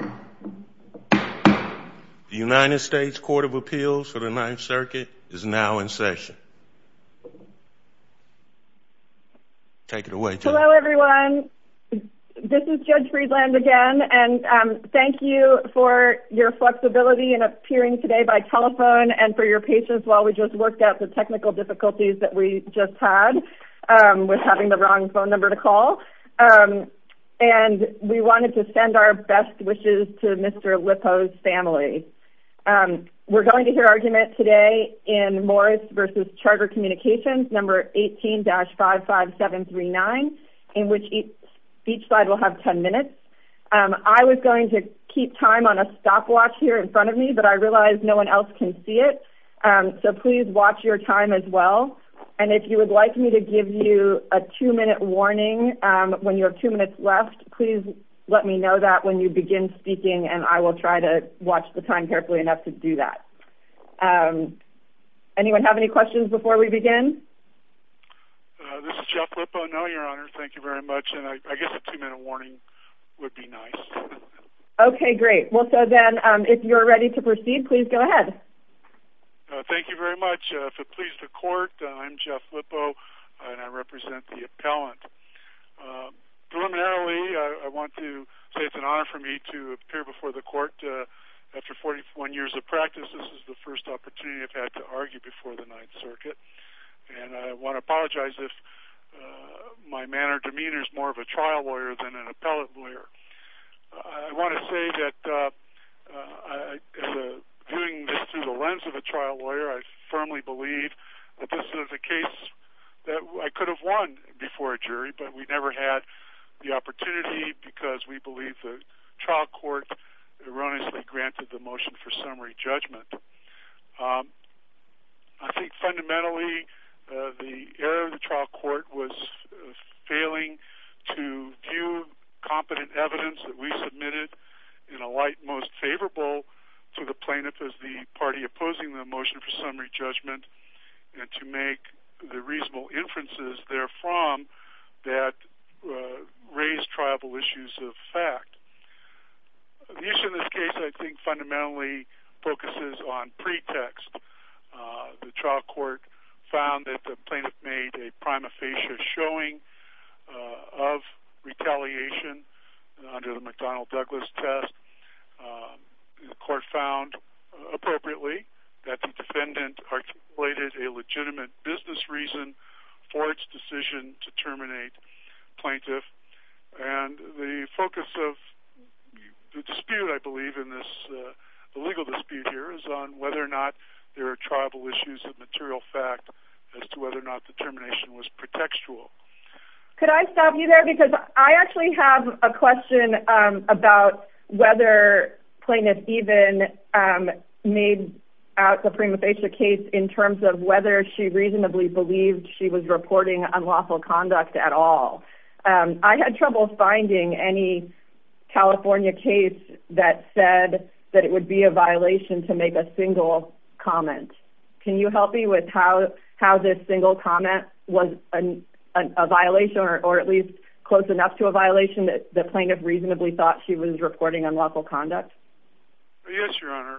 The United States Court of Appeals for the Ninth Circuit is now in session. Hello everyone, this is Judge Friedland again and thank you for your flexibility in appearing today by telephone and for your patience while we just worked out the technical difficulties that we just had with having the wrong phone number to call. And we wanted to send our best wishes to Mr. Lippo's family. We're going to hear argument today in Morris v. Charter Communications, No. 18-55739, in which each slide will have 10 minutes. I was going to keep time on a stopwatch here in front of me, but I realize no one else can see it, so please watch your time as well. And if you would like me to give you a two-minute left, please let me know that when you begin speaking and I will try to watch the time carefully enough to do that. Anyone have any questions before we begin? This is Jeff Lippo. No, Your Honor. Thank you very much. And I guess a two-minute warning would be nice. Okay, great. Well, so then, if you're ready to proceed, please go ahead. Thank you very much. If it pleases the Court, I'm Jeff Lippo and I represent the appellant. Preliminarily, I want to say it's an honor for me to appear before the Court after 41 years of practice. This is the first opportunity I've had to argue before the Ninth Circuit, and I want to apologize if my manner of demeanor is more of a trial lawyer than an appellate lawyer. I want to say that, viewing this through the lens of a trial lawyer, I firmly believe that this is a case that I could have won before a jury, but we never had the opportunity because we believe the trial court erroneously granted the motion for summary judgment. I think fundamentally, the error of the trial court was failing to view competent evidence that we submitted in a light most favorable to the plaintiff as the party opposing the summary judgment, and to make the reasonable inferences therefrom that raised tribal issues of fact. The issue in this case, I think, fundamentally focuses on pretext. The trial court found that the plaintiff made a prima facie showing of retaliation under the McDonnell Douglas test. The court found, appropriately, that the defendant articulated a legitimate business reason for its decision to terminate plaintiff, and the focus of the dispute, I believe, in this legal dispute here is on whether or not there are tribal issues of material fact as to whether or not the termination was pretextual. Could I stop you there? I actually have a question about whether plaintiff even made out the prima facie case in terms of whether she reasonably believed she was reporting unlawful conduct at all. I had trouble finding any California case that said that it would be a violation to make a single comment. Can you help me with how this single comment was a violation or at least close enough to a violation that the plaintiff reasonably thought she was reporting unlawful conduct? Yes, Your Honor.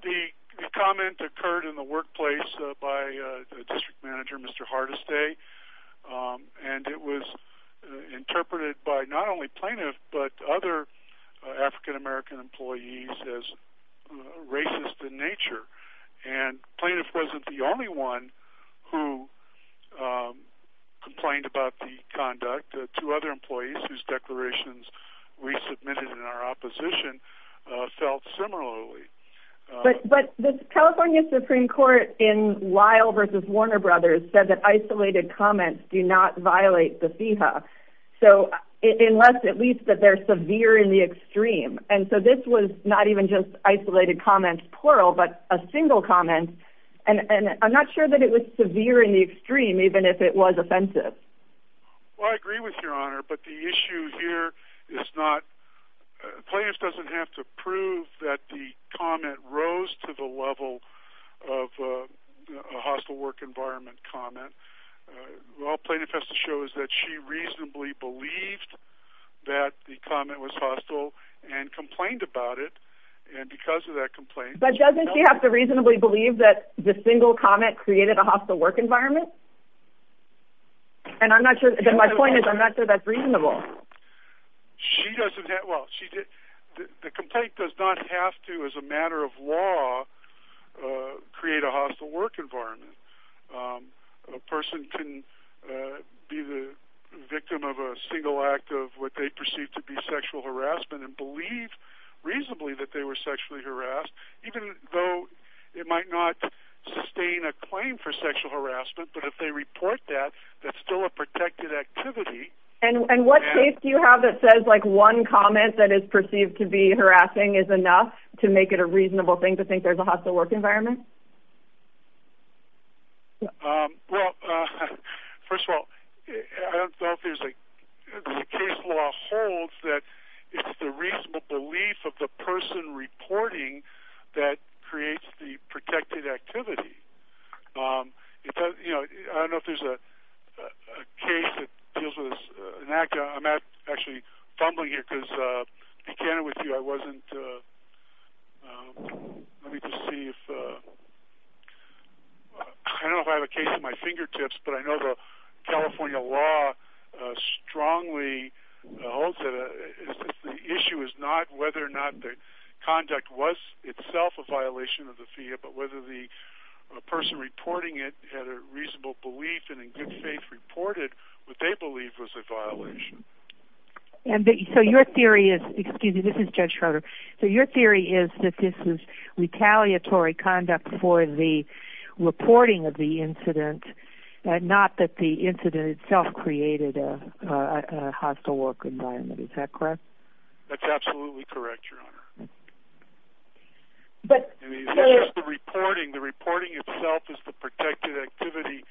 The comment occurred in the workplace by the district manager, Mr. Hardestay, and it was interpreted by not only plaintiff but other African-American employees as racist in nature. Plaintiff wasn't the only one who complained about the conduct. Two other employees whose declarations we submitted in our opposition felt similarly. But the California Supreme Court in Lyle v. Warner Brothers said that isolated comments do not violate the FEHA, unless at least that they're severe in the extreme. So this was not even just isolated comments, plural, but a single comment. And I'm not sure that it was severe in the extreme, even if it was offensive. Well, I agree with Your Honor, but the issue here is not... Plaintiff doesn't have to prove that the comment rose to the level of a hostile work environment comment. All plaintiff has to show is that she reasonably believed that the comment was hostile and complained about it. And because of that complaint... But doesn't she have to reasonably believe that the single comment created a hostile work environment? And I'm not sure... My point is, I'm not sure that's reasonable. She doesn't have... Well, she did... The complaint does not have to, as a matter of law, create a hostile work environment. A person can be the victim of a single act of what they perceive to be sexual harassment and believe reasonably that they were sexually harassed, even though it might not sustain a claim for sexual harassment. But if they report that, that's still a protected activity. And what case do you have that says, like, one comment that is perceived to be harassing is enough to make it a reasonable thing to think there's a hostile work environment? Well, first of all, I don't know if there's a... The case law holds that it's the reasonable belief of the person reporting that creates the protected activity. I don't know if there's a case that deals with this. I'm actually fumbling here, because to be candid with you, I wasn't... Let me just see if... I don't know if I have a case at my fingertips, but I know the California law strongly holds that the issue is not whether or not the conduct was itself a violation of the FIA, but whether the person reporting it had a reasonable belief and in good faith reported what they believed was a violation. So your theory is... Excuse me, this is Judge Schroeder. So your theory is that this is retaliatory conduct for the reporting of the incident, not that the incident itself created a hostile work environment. Is that correct? That's absolutely correct, Your Honor. But... The reporting itself is the protected activity,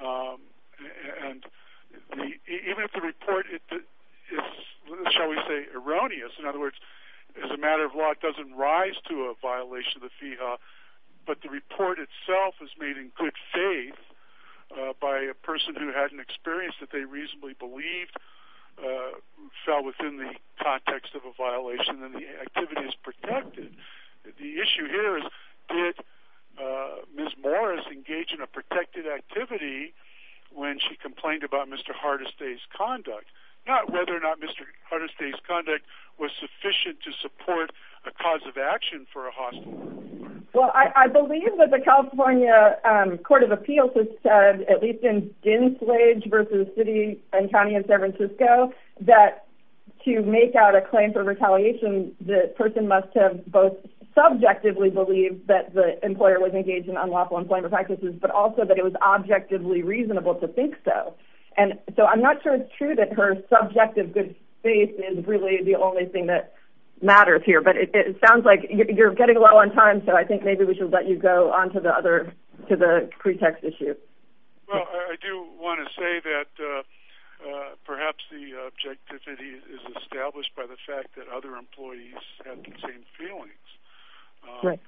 and even if the report is, shall we say, erroneous, in other words, as a matter of law, it doesn't rise to a violation of the FIA, but the report itself was made in good faith by a person who had an experience that they reasonably believed fell within the context of a violation, and the activity is protected. The issue here is did Ms. Morris engage in a protected activity when she complained about Mr. Hardestay's conduct, not whether or not Mr. Hardestay's conduct was sufficient to support a cause of action for a hostile work environment? Well, I believe that the California Court of Appeals has said, at least in Dinslage v. City and County of San Francisco, that to make out a claim for retaliation, the person must have both subjectively believed that the employer was engaged in unlawful employment practices, but also that it was objectively reasonable to think so. And so I'm not sure it's true that her subjective good faith is really the only thing that matters here, but it sounds like you're getting low on time, so I think maybe we should let you go on to the pretext issue. Well, I do want to say that perhaps the objectivity is established by the fact that other employees had the same feelings. Right.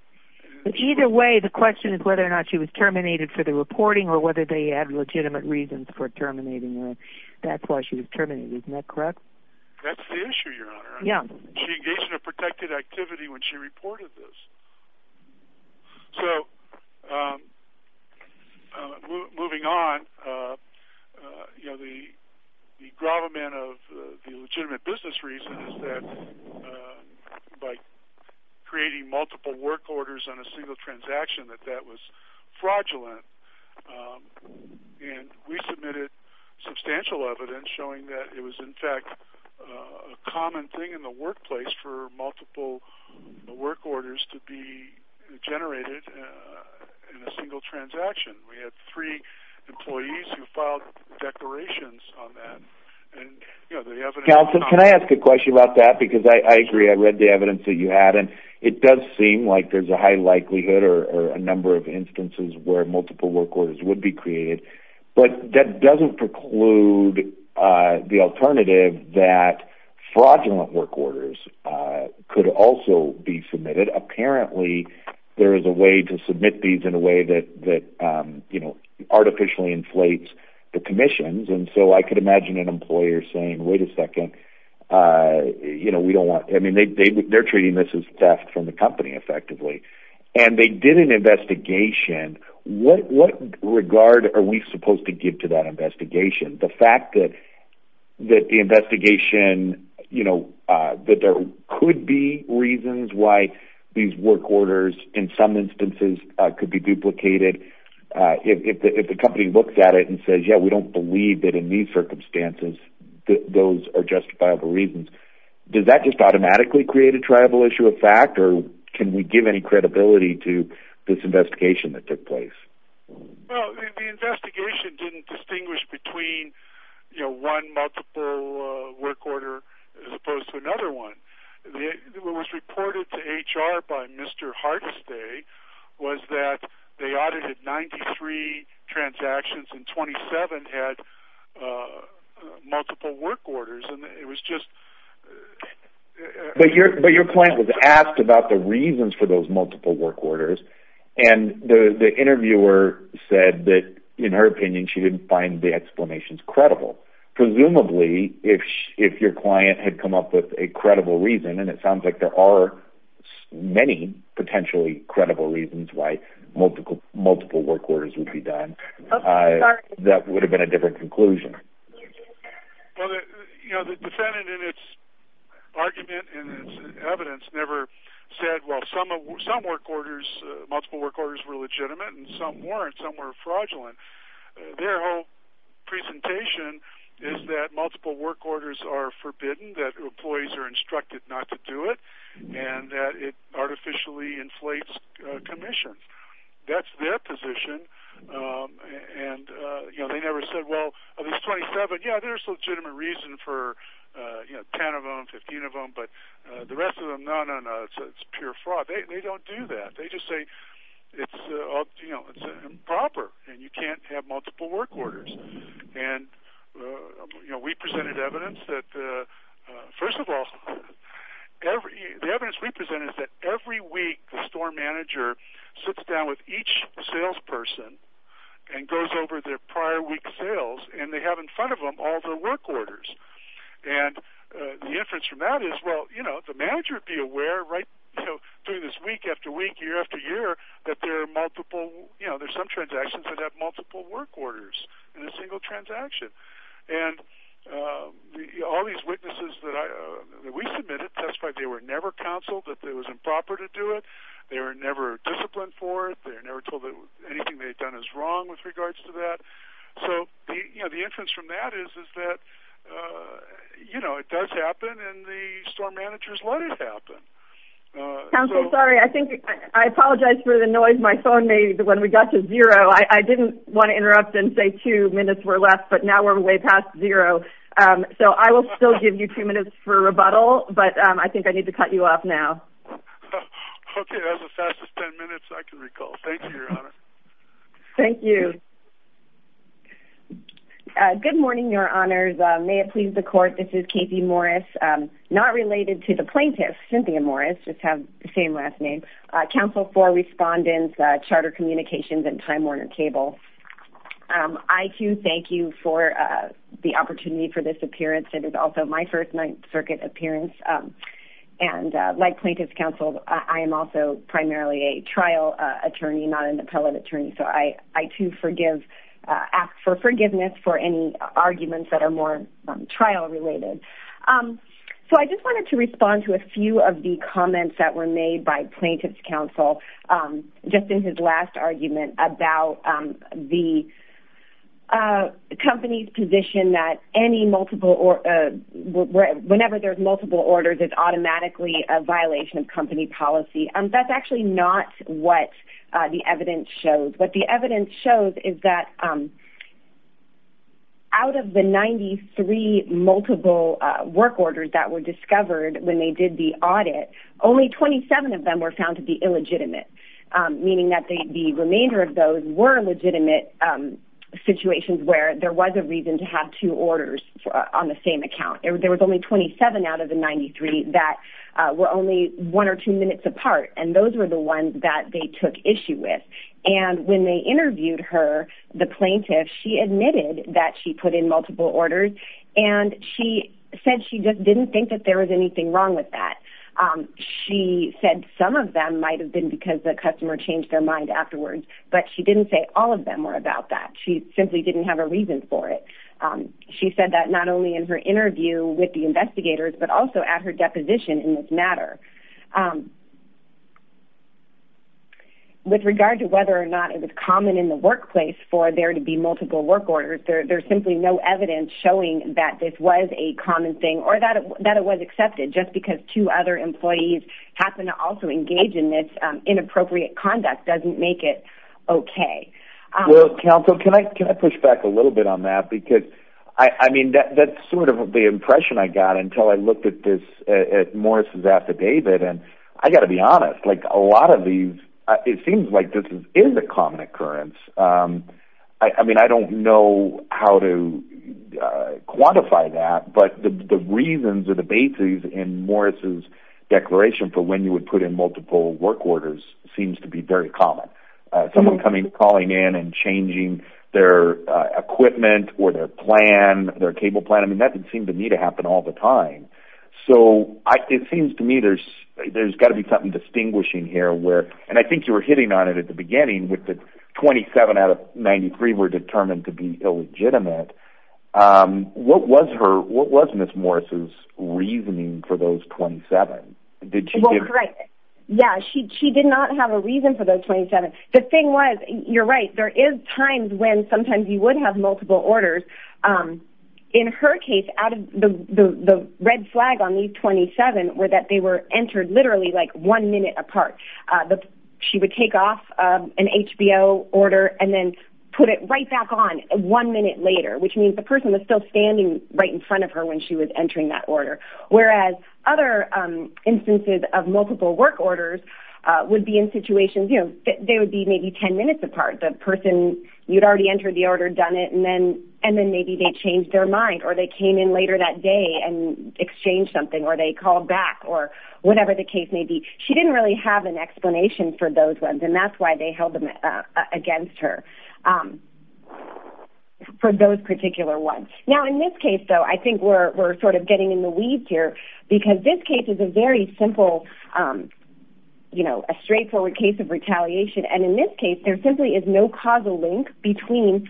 Either way, the question is whether or not she was terminated for the reporting or whether they had legitimate reasons for terminating her. That's why she was terminated, isn't that correct? That's the issue, Your Honor. Yeah. She engaged in a protected activity when she reported this. So, moving on, you know, the gravamen of the legitimate business reason is that by creating multiple work orders on a single transaction, that that was fraudulent. And we submitted substantial evidence showing that it was, in fact, a common thing in the workplace for multiple work orders to be generated in a single transaction. We had three employees who filed declarations on that. And, you know, the evidence... Counselor, can I ask a question about that? Because I agree, I read the evidence that you had, and it does seem like there's a high likelihood or a number of instances where multiple work orders would be created. But that doesn't preclude the alternative that fraudulent work orders could also be submitted. Apparently, there is a way to submit these in a way that, you know, artificially inflates the commissions. And so I could imagine an employer saying, wait a second, you know, they're treating this as theft from the company, effectively. And they did an investigation. What regard are we supposed to give to that investigation? The fact that the investigation, you know, that there could be reasons why these work orders, in some instances, could be duplicated. If the company looks at it and says, yeah, we don't believe that in these cases, does that just automatically create a triable issue of fact? Or can we give any credibility to this investigation that took place? Well, the investigation didn't distinguish between, you know, one multiple work order as opposed to another one. What was reported to HR by Mr. Hardestay was that they audited 93 transactions and 27 had multiple work orders. And it was just... But your client was asked about the reasons for those multiple work orders. And the interviewer said that, in her opinion, she didn't find the explanations credible. Presumably, if your client had come up with a credible reason, and it sounds like there are many potentially credible reasons why multiple work orders would be done, that would have been a different conclusion. Well, you know, the defendant, in its argument and its evidence, never said, well, some work orders, multiple work orders, were legitimate, and some weren't. Some were fraudulent. Their whole presentation is that multiple work orders are forbidden, that employees are instructed not to do it, and that it artificially inflates commissions. That's their position. And, you know, 27, yeah, there's legitimate reason for, you know, 10 of them, 15 of them, but the rest of them, no, no, no, it's pure fraud. They don't do that. They just say it's improper, and you can't have multiple work orders. And, you know, we presented evidence that, first of all, the evidence we presented is that every week the store manager sits down with each salesperson and goes over their prior week's sales, and they have in front of them all their work orders. And the inference from that is, well, you know, the manager would be aware, right, you know, during this week after week, year after year, that there are multiple, you know, there's some transactions that have multiple work orders in a single transaction. And all these witnesses that we submitted testified they were never counseled that it was improper to do it. They were never disciplined for it. They were never told that anything they had done was wrong with regards to that. So, you know, the inference from that is that, you know, it does happen, and the store managers let it happen. Council, sorry, I think I apologize for the noise my phone made when we got to zero. I didn't want to interrupt and say two minutes were left, but now we're way past zero. So I will still give you two minutes for rebuttal, but I think I need to cut you off now. Okay, that was the fastest ten minutes I can recall. Thank you, Your Honor. Thank you. Good morning, Your Honors. May it please the Court, this is Katie Morris, not related to the plaintiff, Cynthia Morris, just have the same last name. Counsel for Respondents, Charter Communications, and Time Warner Cable. I too thank you for the opportunity for this appearance. It is also my first Ninth Circuit appearance, and like Plaintiff's Counsel, I am also primarily a trial attorney, not an appellate attorney, so I too ask for forgiveness for any arguments that are more trial-related. So I just wanted to respond to a few of the comments that were made by Plaintiff's Counsel just in his last argument about the company's position that whenever there's multiple orders, it's automatically a violation of company policy. That's actually not what the evidence shows. What the evidence shows is that out of the 93 multiple work orders that were discovered when they did the audit, only 27 of them were found to be illegitimate, meaning that the remainder of those were legitimate situations where there was a reason to have two orders on the same account. There was only 27 out of the 93 that were only one or two minutes apart, and those were the ones that they took issue with. And when they interviewed her, the plaintiff, she admitted that she put in multiple orders, and she said she just didn't think that there was anything wrong with that. She said some of them might have been because the customer changed their mind afterwards, but she didn't say all of them were about that. She simply didn't have a reason for it. She said that not only in her interview with the investigators, but also at her deposition in this matter. With regard to whether or not it was common in the workplace for there to be multiple work orders, there's simply no evidence showing that this was a common thing or that it was accepted just because two other employees happened to also engage in this inappropriate conduct doesn't make it okay. Well, counsel, can I push back a little bit on that? Because, I mean, that's sort of the impression I got until I looked at this, at Morris' affidavit, and I got to be honest, like a lot of these, it seems like this is a common occurrence. I mean, I don't know how to quantify that, but the reasons or the bases in Morris' declaration for when you would put in multiple work orders seems to be very common. Someone calling in and changing their equipment or their plan, their cable plan, I mean, that didn't seem to me to happen all the time. So, it seems to me there's got to be something distinguishing here, and I think you were hitting on it at the beginning with the 27 out of 93 were determined to be illegitimate. What was Miss Morris' reasoning for those 27? Well, correct. Yeah, she did not have a reason for those 27. The thing was, you're right, there is times when sometimes you would have multiple orders. In her case, out of the red flag on these 27 were that they were entered literally like one minute apart. She would take off an HBO order and then put it right back on one minute later, which means the person was still standing right in front of her when she was entering that order, whereas other instances of multiple work orders would be in situations, you know, they would be maybe 10 minutes apart. The person, you'd already entered the order, done it, and then maybe they changed their mind or they came in later that day and exchanged something or they called back or whatever the case may be. She didn't really have an explanation for those ones, and that's why they held them against her for those particular ones. Now, in this case, though, I think we're sort of getting in the weeds here because this case is a very simple, you know, a straightforward case of retaliation, and in this case there simply is no causal link between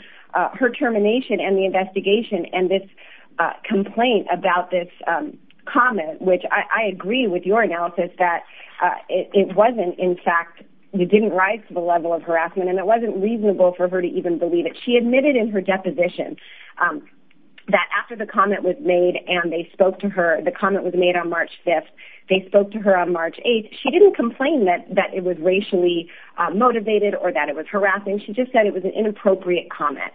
her termination and the investigation and this complaint about this comment, which I agree with your analysis that it wasn't, in fact, it didn't rise to the level of harassment and it wasn't reasonable for her to even believe it. She admitted in her deposition that after the comment was made and they spoke to her, the comment was made on March 5th, they spoke to her on March 8th, she didn't complain that it was racially motivated or that it was harassing, she just said it was an inappropriate comment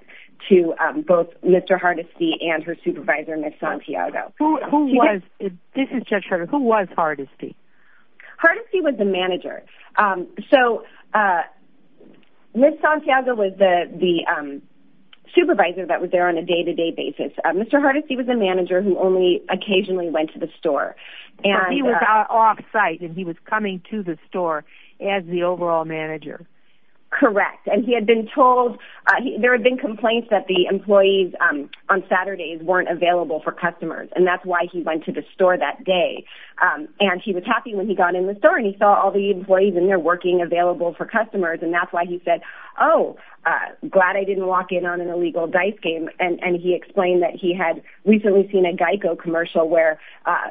to both Mr. Hardesty and her supervisor, Ms. Santiago. Who was, this is just for, who was Hardesty? Hardesty was the manager. So, Ms. Santiago was the supervisor that was there on a day-to-day basis. Mr. Hardesty was the manager who only occasionally went to the store. But he was off-site and he was coming to the store as the overall manager. Correct, and he had been told, there had been complaints that the employees on Saturdays were not working and that's why he went to the store that day. And he was happy when he got in the store and he saw all the employees in there working available for customers and that's why he said, oh, glad I didn't walk in on an illegal dice game. And he explained that he had recently seen a Geico commercial where,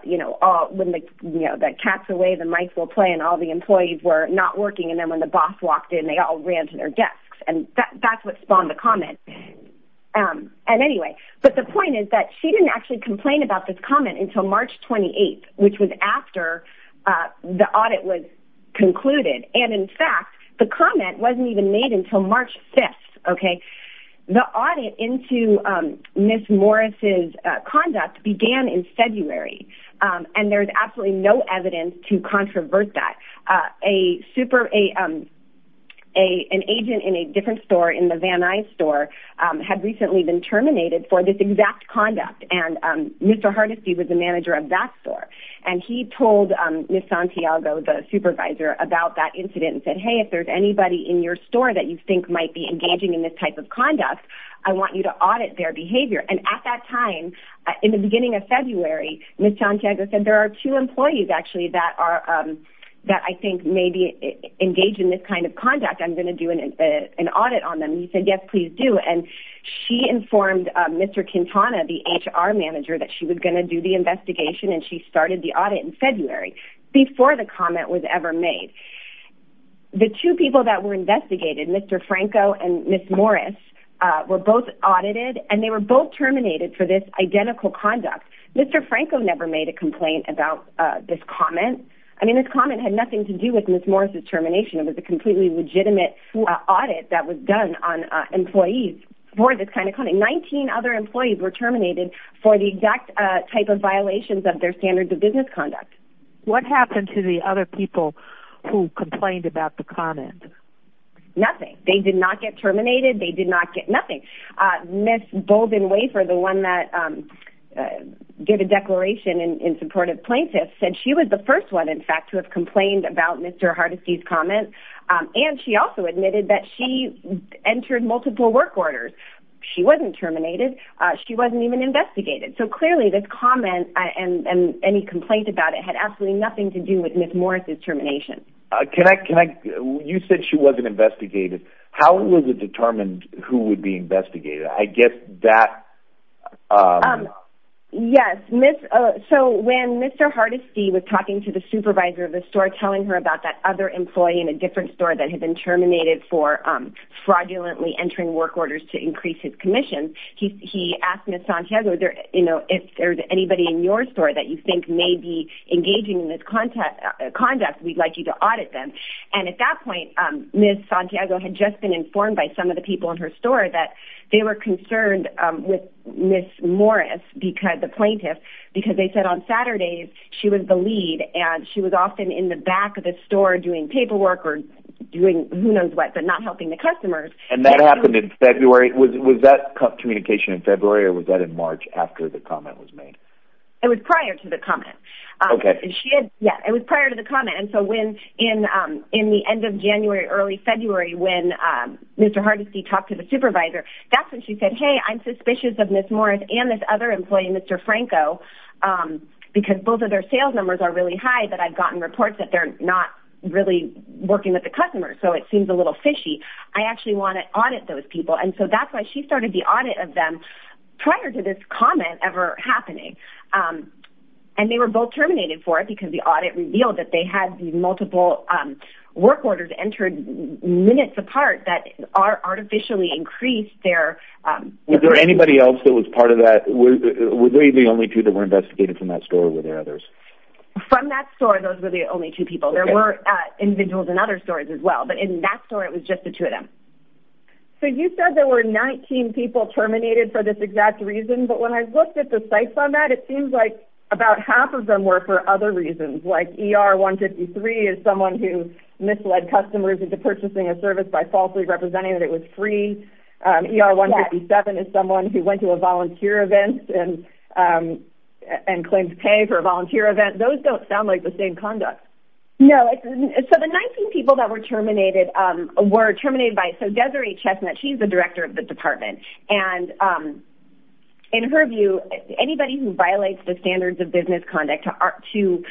you know, all, when the, you know, the cat's away, the mice will play and all the employees were not working and then when the boss walked in, they all ran to their desks. And that's what spawned the comment. And anyway, but the point is that she didn't actually complain about this comment until March 28th, which was after the audit was concluded. And in fact, the comment wasn't even made until March 5th, okay? The audit into Ms. Morris' conduct began in February and there's absolutely no evidence to controverse that. A super, a, an agent in a different store in the Van Nuys store had recently been terminated for this exact conduct. And Mr. Hardesty was the manager of that store. And he told Ms. Santiago, the supervisor, about that incident and said, hey, if there's anybody in your store that you think might be engaging in this type of conduct, I want you to audit their behavior. And at that time, in the beginning of February, Ms. Santiago said, there are two employees actually that are, that I think engage in this kind of conduct. I'm going to do an audit on them. He said, yes, please do. And she informed Mr. Quintana, the HR manager, that she was going to do the investigation and she started the audit in February before the comment was ever made. The two people that were investigated, Mr. Franco and Ms. Morris, were both audited and they were both terminated for this identical conduct. Mr. Franco never made a complaint about this comment. I mean, this comment had nothing to do with Ms. Morris' termination. It was a completely legitimate audit that was done on employees for this kind of conduct. 19 other employees were terminated for the exact type of violations of their standards of business conduct. What happened to the other people who complained about the comment? Nothing. They did not get terminated. They did not get nothing. Ms. Bolden-Wafer, the first one, in fact, who had complained about Mr. Hardesty's comment, and she also admitted that she entered multiple work orders. She wasn't terminated. She wasn't even investigated. So clearly this comment and any complaint about it had absolutely nothing to do with Ms. Morris' termination. Can I, can I, you said she wasn't investigated. How was it determined who would be investigated? I guess that... Yes, so when Mr. Hardesty was talking to the supervisor of the store, telling her about that other employee in a different store that had been terminated for fraudulently entering work orders to increase his commission, he asked Ms. Santiago, you know, if there's anybody in your store that you think may be engaging in this conduct, we'd like you to audit them. And at that point, Ms. Santiago had just been informed by some of the people in her store that they were concerned with Ms. Morris, the plaintiff, because they said on Saturdays she was the lead and she was often in the back of the store doing paperwork or doing who knows what, but not helping the customers. And that happened in February. Was that communication in February or was that in March after the comment was made? It was prior to the comment. Okay. And she had, yeah, it was prior to the comment. And so when, in the end of January, early February, when Mr. Hardesty talked to the supervisor, that's when she said, hey, I'm suspicious of Ms. Morris and this other employee, Mr. Franco, because both of their sales numbers are really high, but I've gotten reports that they're not really working with the customers, so it seems a little fishy. I actually want to audit those people. And so that's why she started the audit of them prior to this comment ever happening. And they were both terminated for it because the audit revealed that they had multiple work orders entered minutes apart that artificially increased their... Was there anybody else that was part of that? Were they the only two that were investigated from that store or were there others? From that store, those were the only two people. There were individuals in other stores as well, but in that store it was just the two of them. So you said there were 19 people terminated for this exact reason, but when I looked at the sites on that, it seems like about half of them were for other reasons, like ER-153 is someone who misled customers into purchasing a service by falsely representing that it was free. ER-157 is someone who went to a volunteer event and claimed to pay for a volunteer event. Those don't sound like the same conduct. No, so the 19 people that were terminated were terminated by... So Desiree Chestnut, she's the director of the department, and in her view, anybody who violates the standards of business conduct to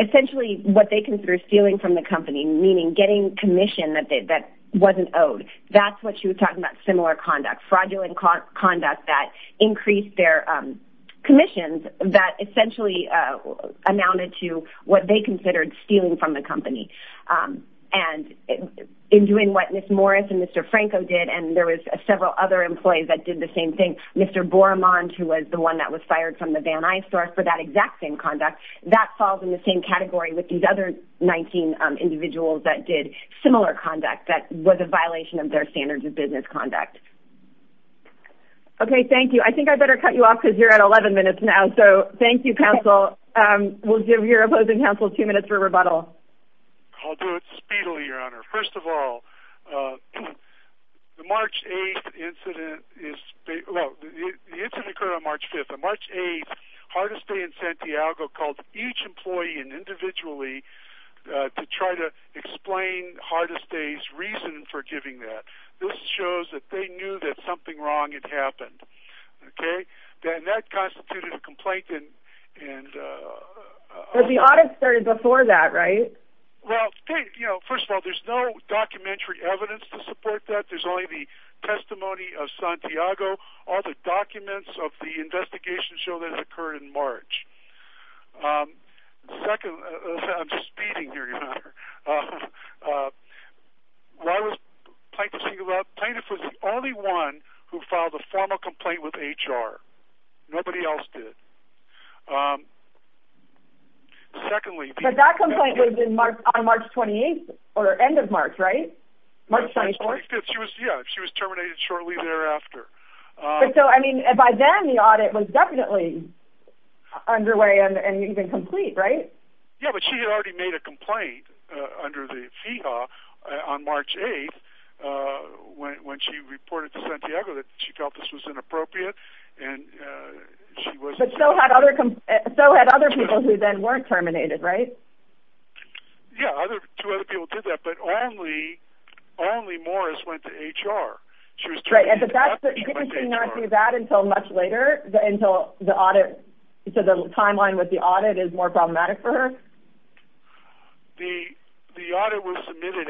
essentially what they consider stealing from the company, meaning getting commission that wasn't owed, that's what she was talking about, similar conduct, fraudulent conduct that increased their commissions that essentially amounted to what they considered stealing from the company. And in doing what Ms. Morris and Mr. Franco did, and there was several other employees that did the same thing, Mr. Boramond, who was the one that was fired from the Van Nuys store for that exact same conduct, that falls in the same category with these other 19 individuals that did similar conduct that was a violation of their standards of business conduct. Okay, thank you. I think I better cut you off because you're at 11 minutes now, so thank you, counsel. We'll give your opposing counsel two minutes for rebuttal. I'll do it speedily, Your Honor. First of all, the March 8th incident is... Well, the incident occurred on March 5th. On March 8th, Hardest Day and Santiago called each employee and individually to try to explain Hardest Day's reason for giving that. This shows that they knew that something wrong had happened, okay? And that constituted a complaint and... But the audit started before that, right? Well, you know, first of all, there's no documentary evidence to support that. There's only the testimony of Santiago, all the documents of the investigation show that it occurred in March. Second, I'm just beating here, Your Honor. Plaintiff was the only one who filed a formal complaint with HR. Nobody else did. But that complaint was on March 28th or end of March, right? Yeah, she was terminated shortly thereafter. So, I mean, by then the audit was definitely underway and even complete, right? Yeah, but she had already made a complaint under the FEHA on March 8th when she reported to Santiago that she felt this was inappropriate and she wasn't... But so had other people who then weren't terminated, right? Yeah, two other people did that, but only Morris went to HR. She was terminated after she went to HR. Did she not do that until much later, until the audit, so the timeline with the audit is more problematic for her? The audit was submitted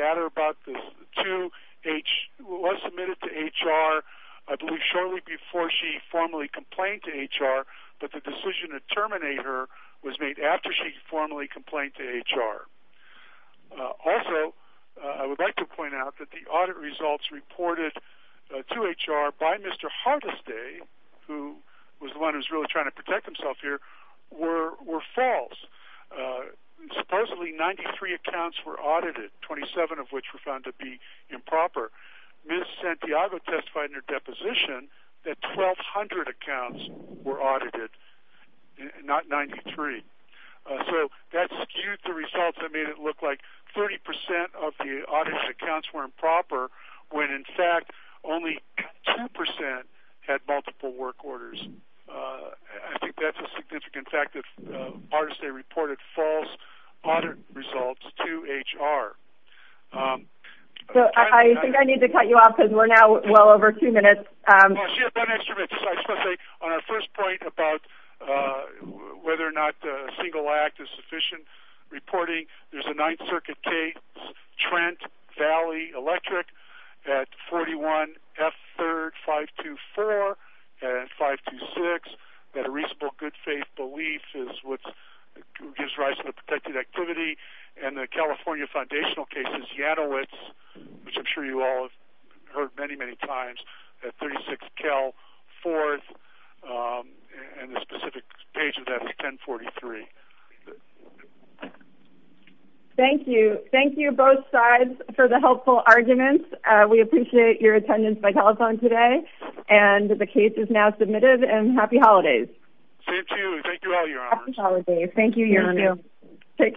to HR, I believe, shortly before she formally complained to HR, but the decision to terminate her was made after she formally complained to HR. Also, I would like to point out that the audit results reported to HR by Mr. Hardestay, who was the one who was really trying to protect himself here, were false. Supposedly 93 accounts were audited, 27 of which were found to be improper. Ms. Santiago testified in her deposition that 1,200 accounts were audited, not 93. So that skewed the results and made it look like 30% of the audited accounts were improper when, in fact, only 2% had multiple work orders. I think that's a significant fact that Hardestay reported false audit results to HR. I think I need to cut you off because we're now well over two minutes. Well, she had one extra minute, so I just want to say, on our first point about whether or not a single act is sufficient reporting, there's a Ninth Circuit case, Trent, Valley, Electric, at 41F3-524 and 526. That a reasonable good faith belief is what gives rise to the protected activity. And the California Foundational case is Janowitz, which I'm sure you all have heard many, many times, at 36K4, and the specific page of that is 1043. Thank you. Thank you, both sides, for the helpful arguments. We appreciate your attendance by telephone today. And the case is now submitted, and happy holidays. Same to you. Thank you all, Your Honors. Happy holidays. Thank you, Your Honor. Take care.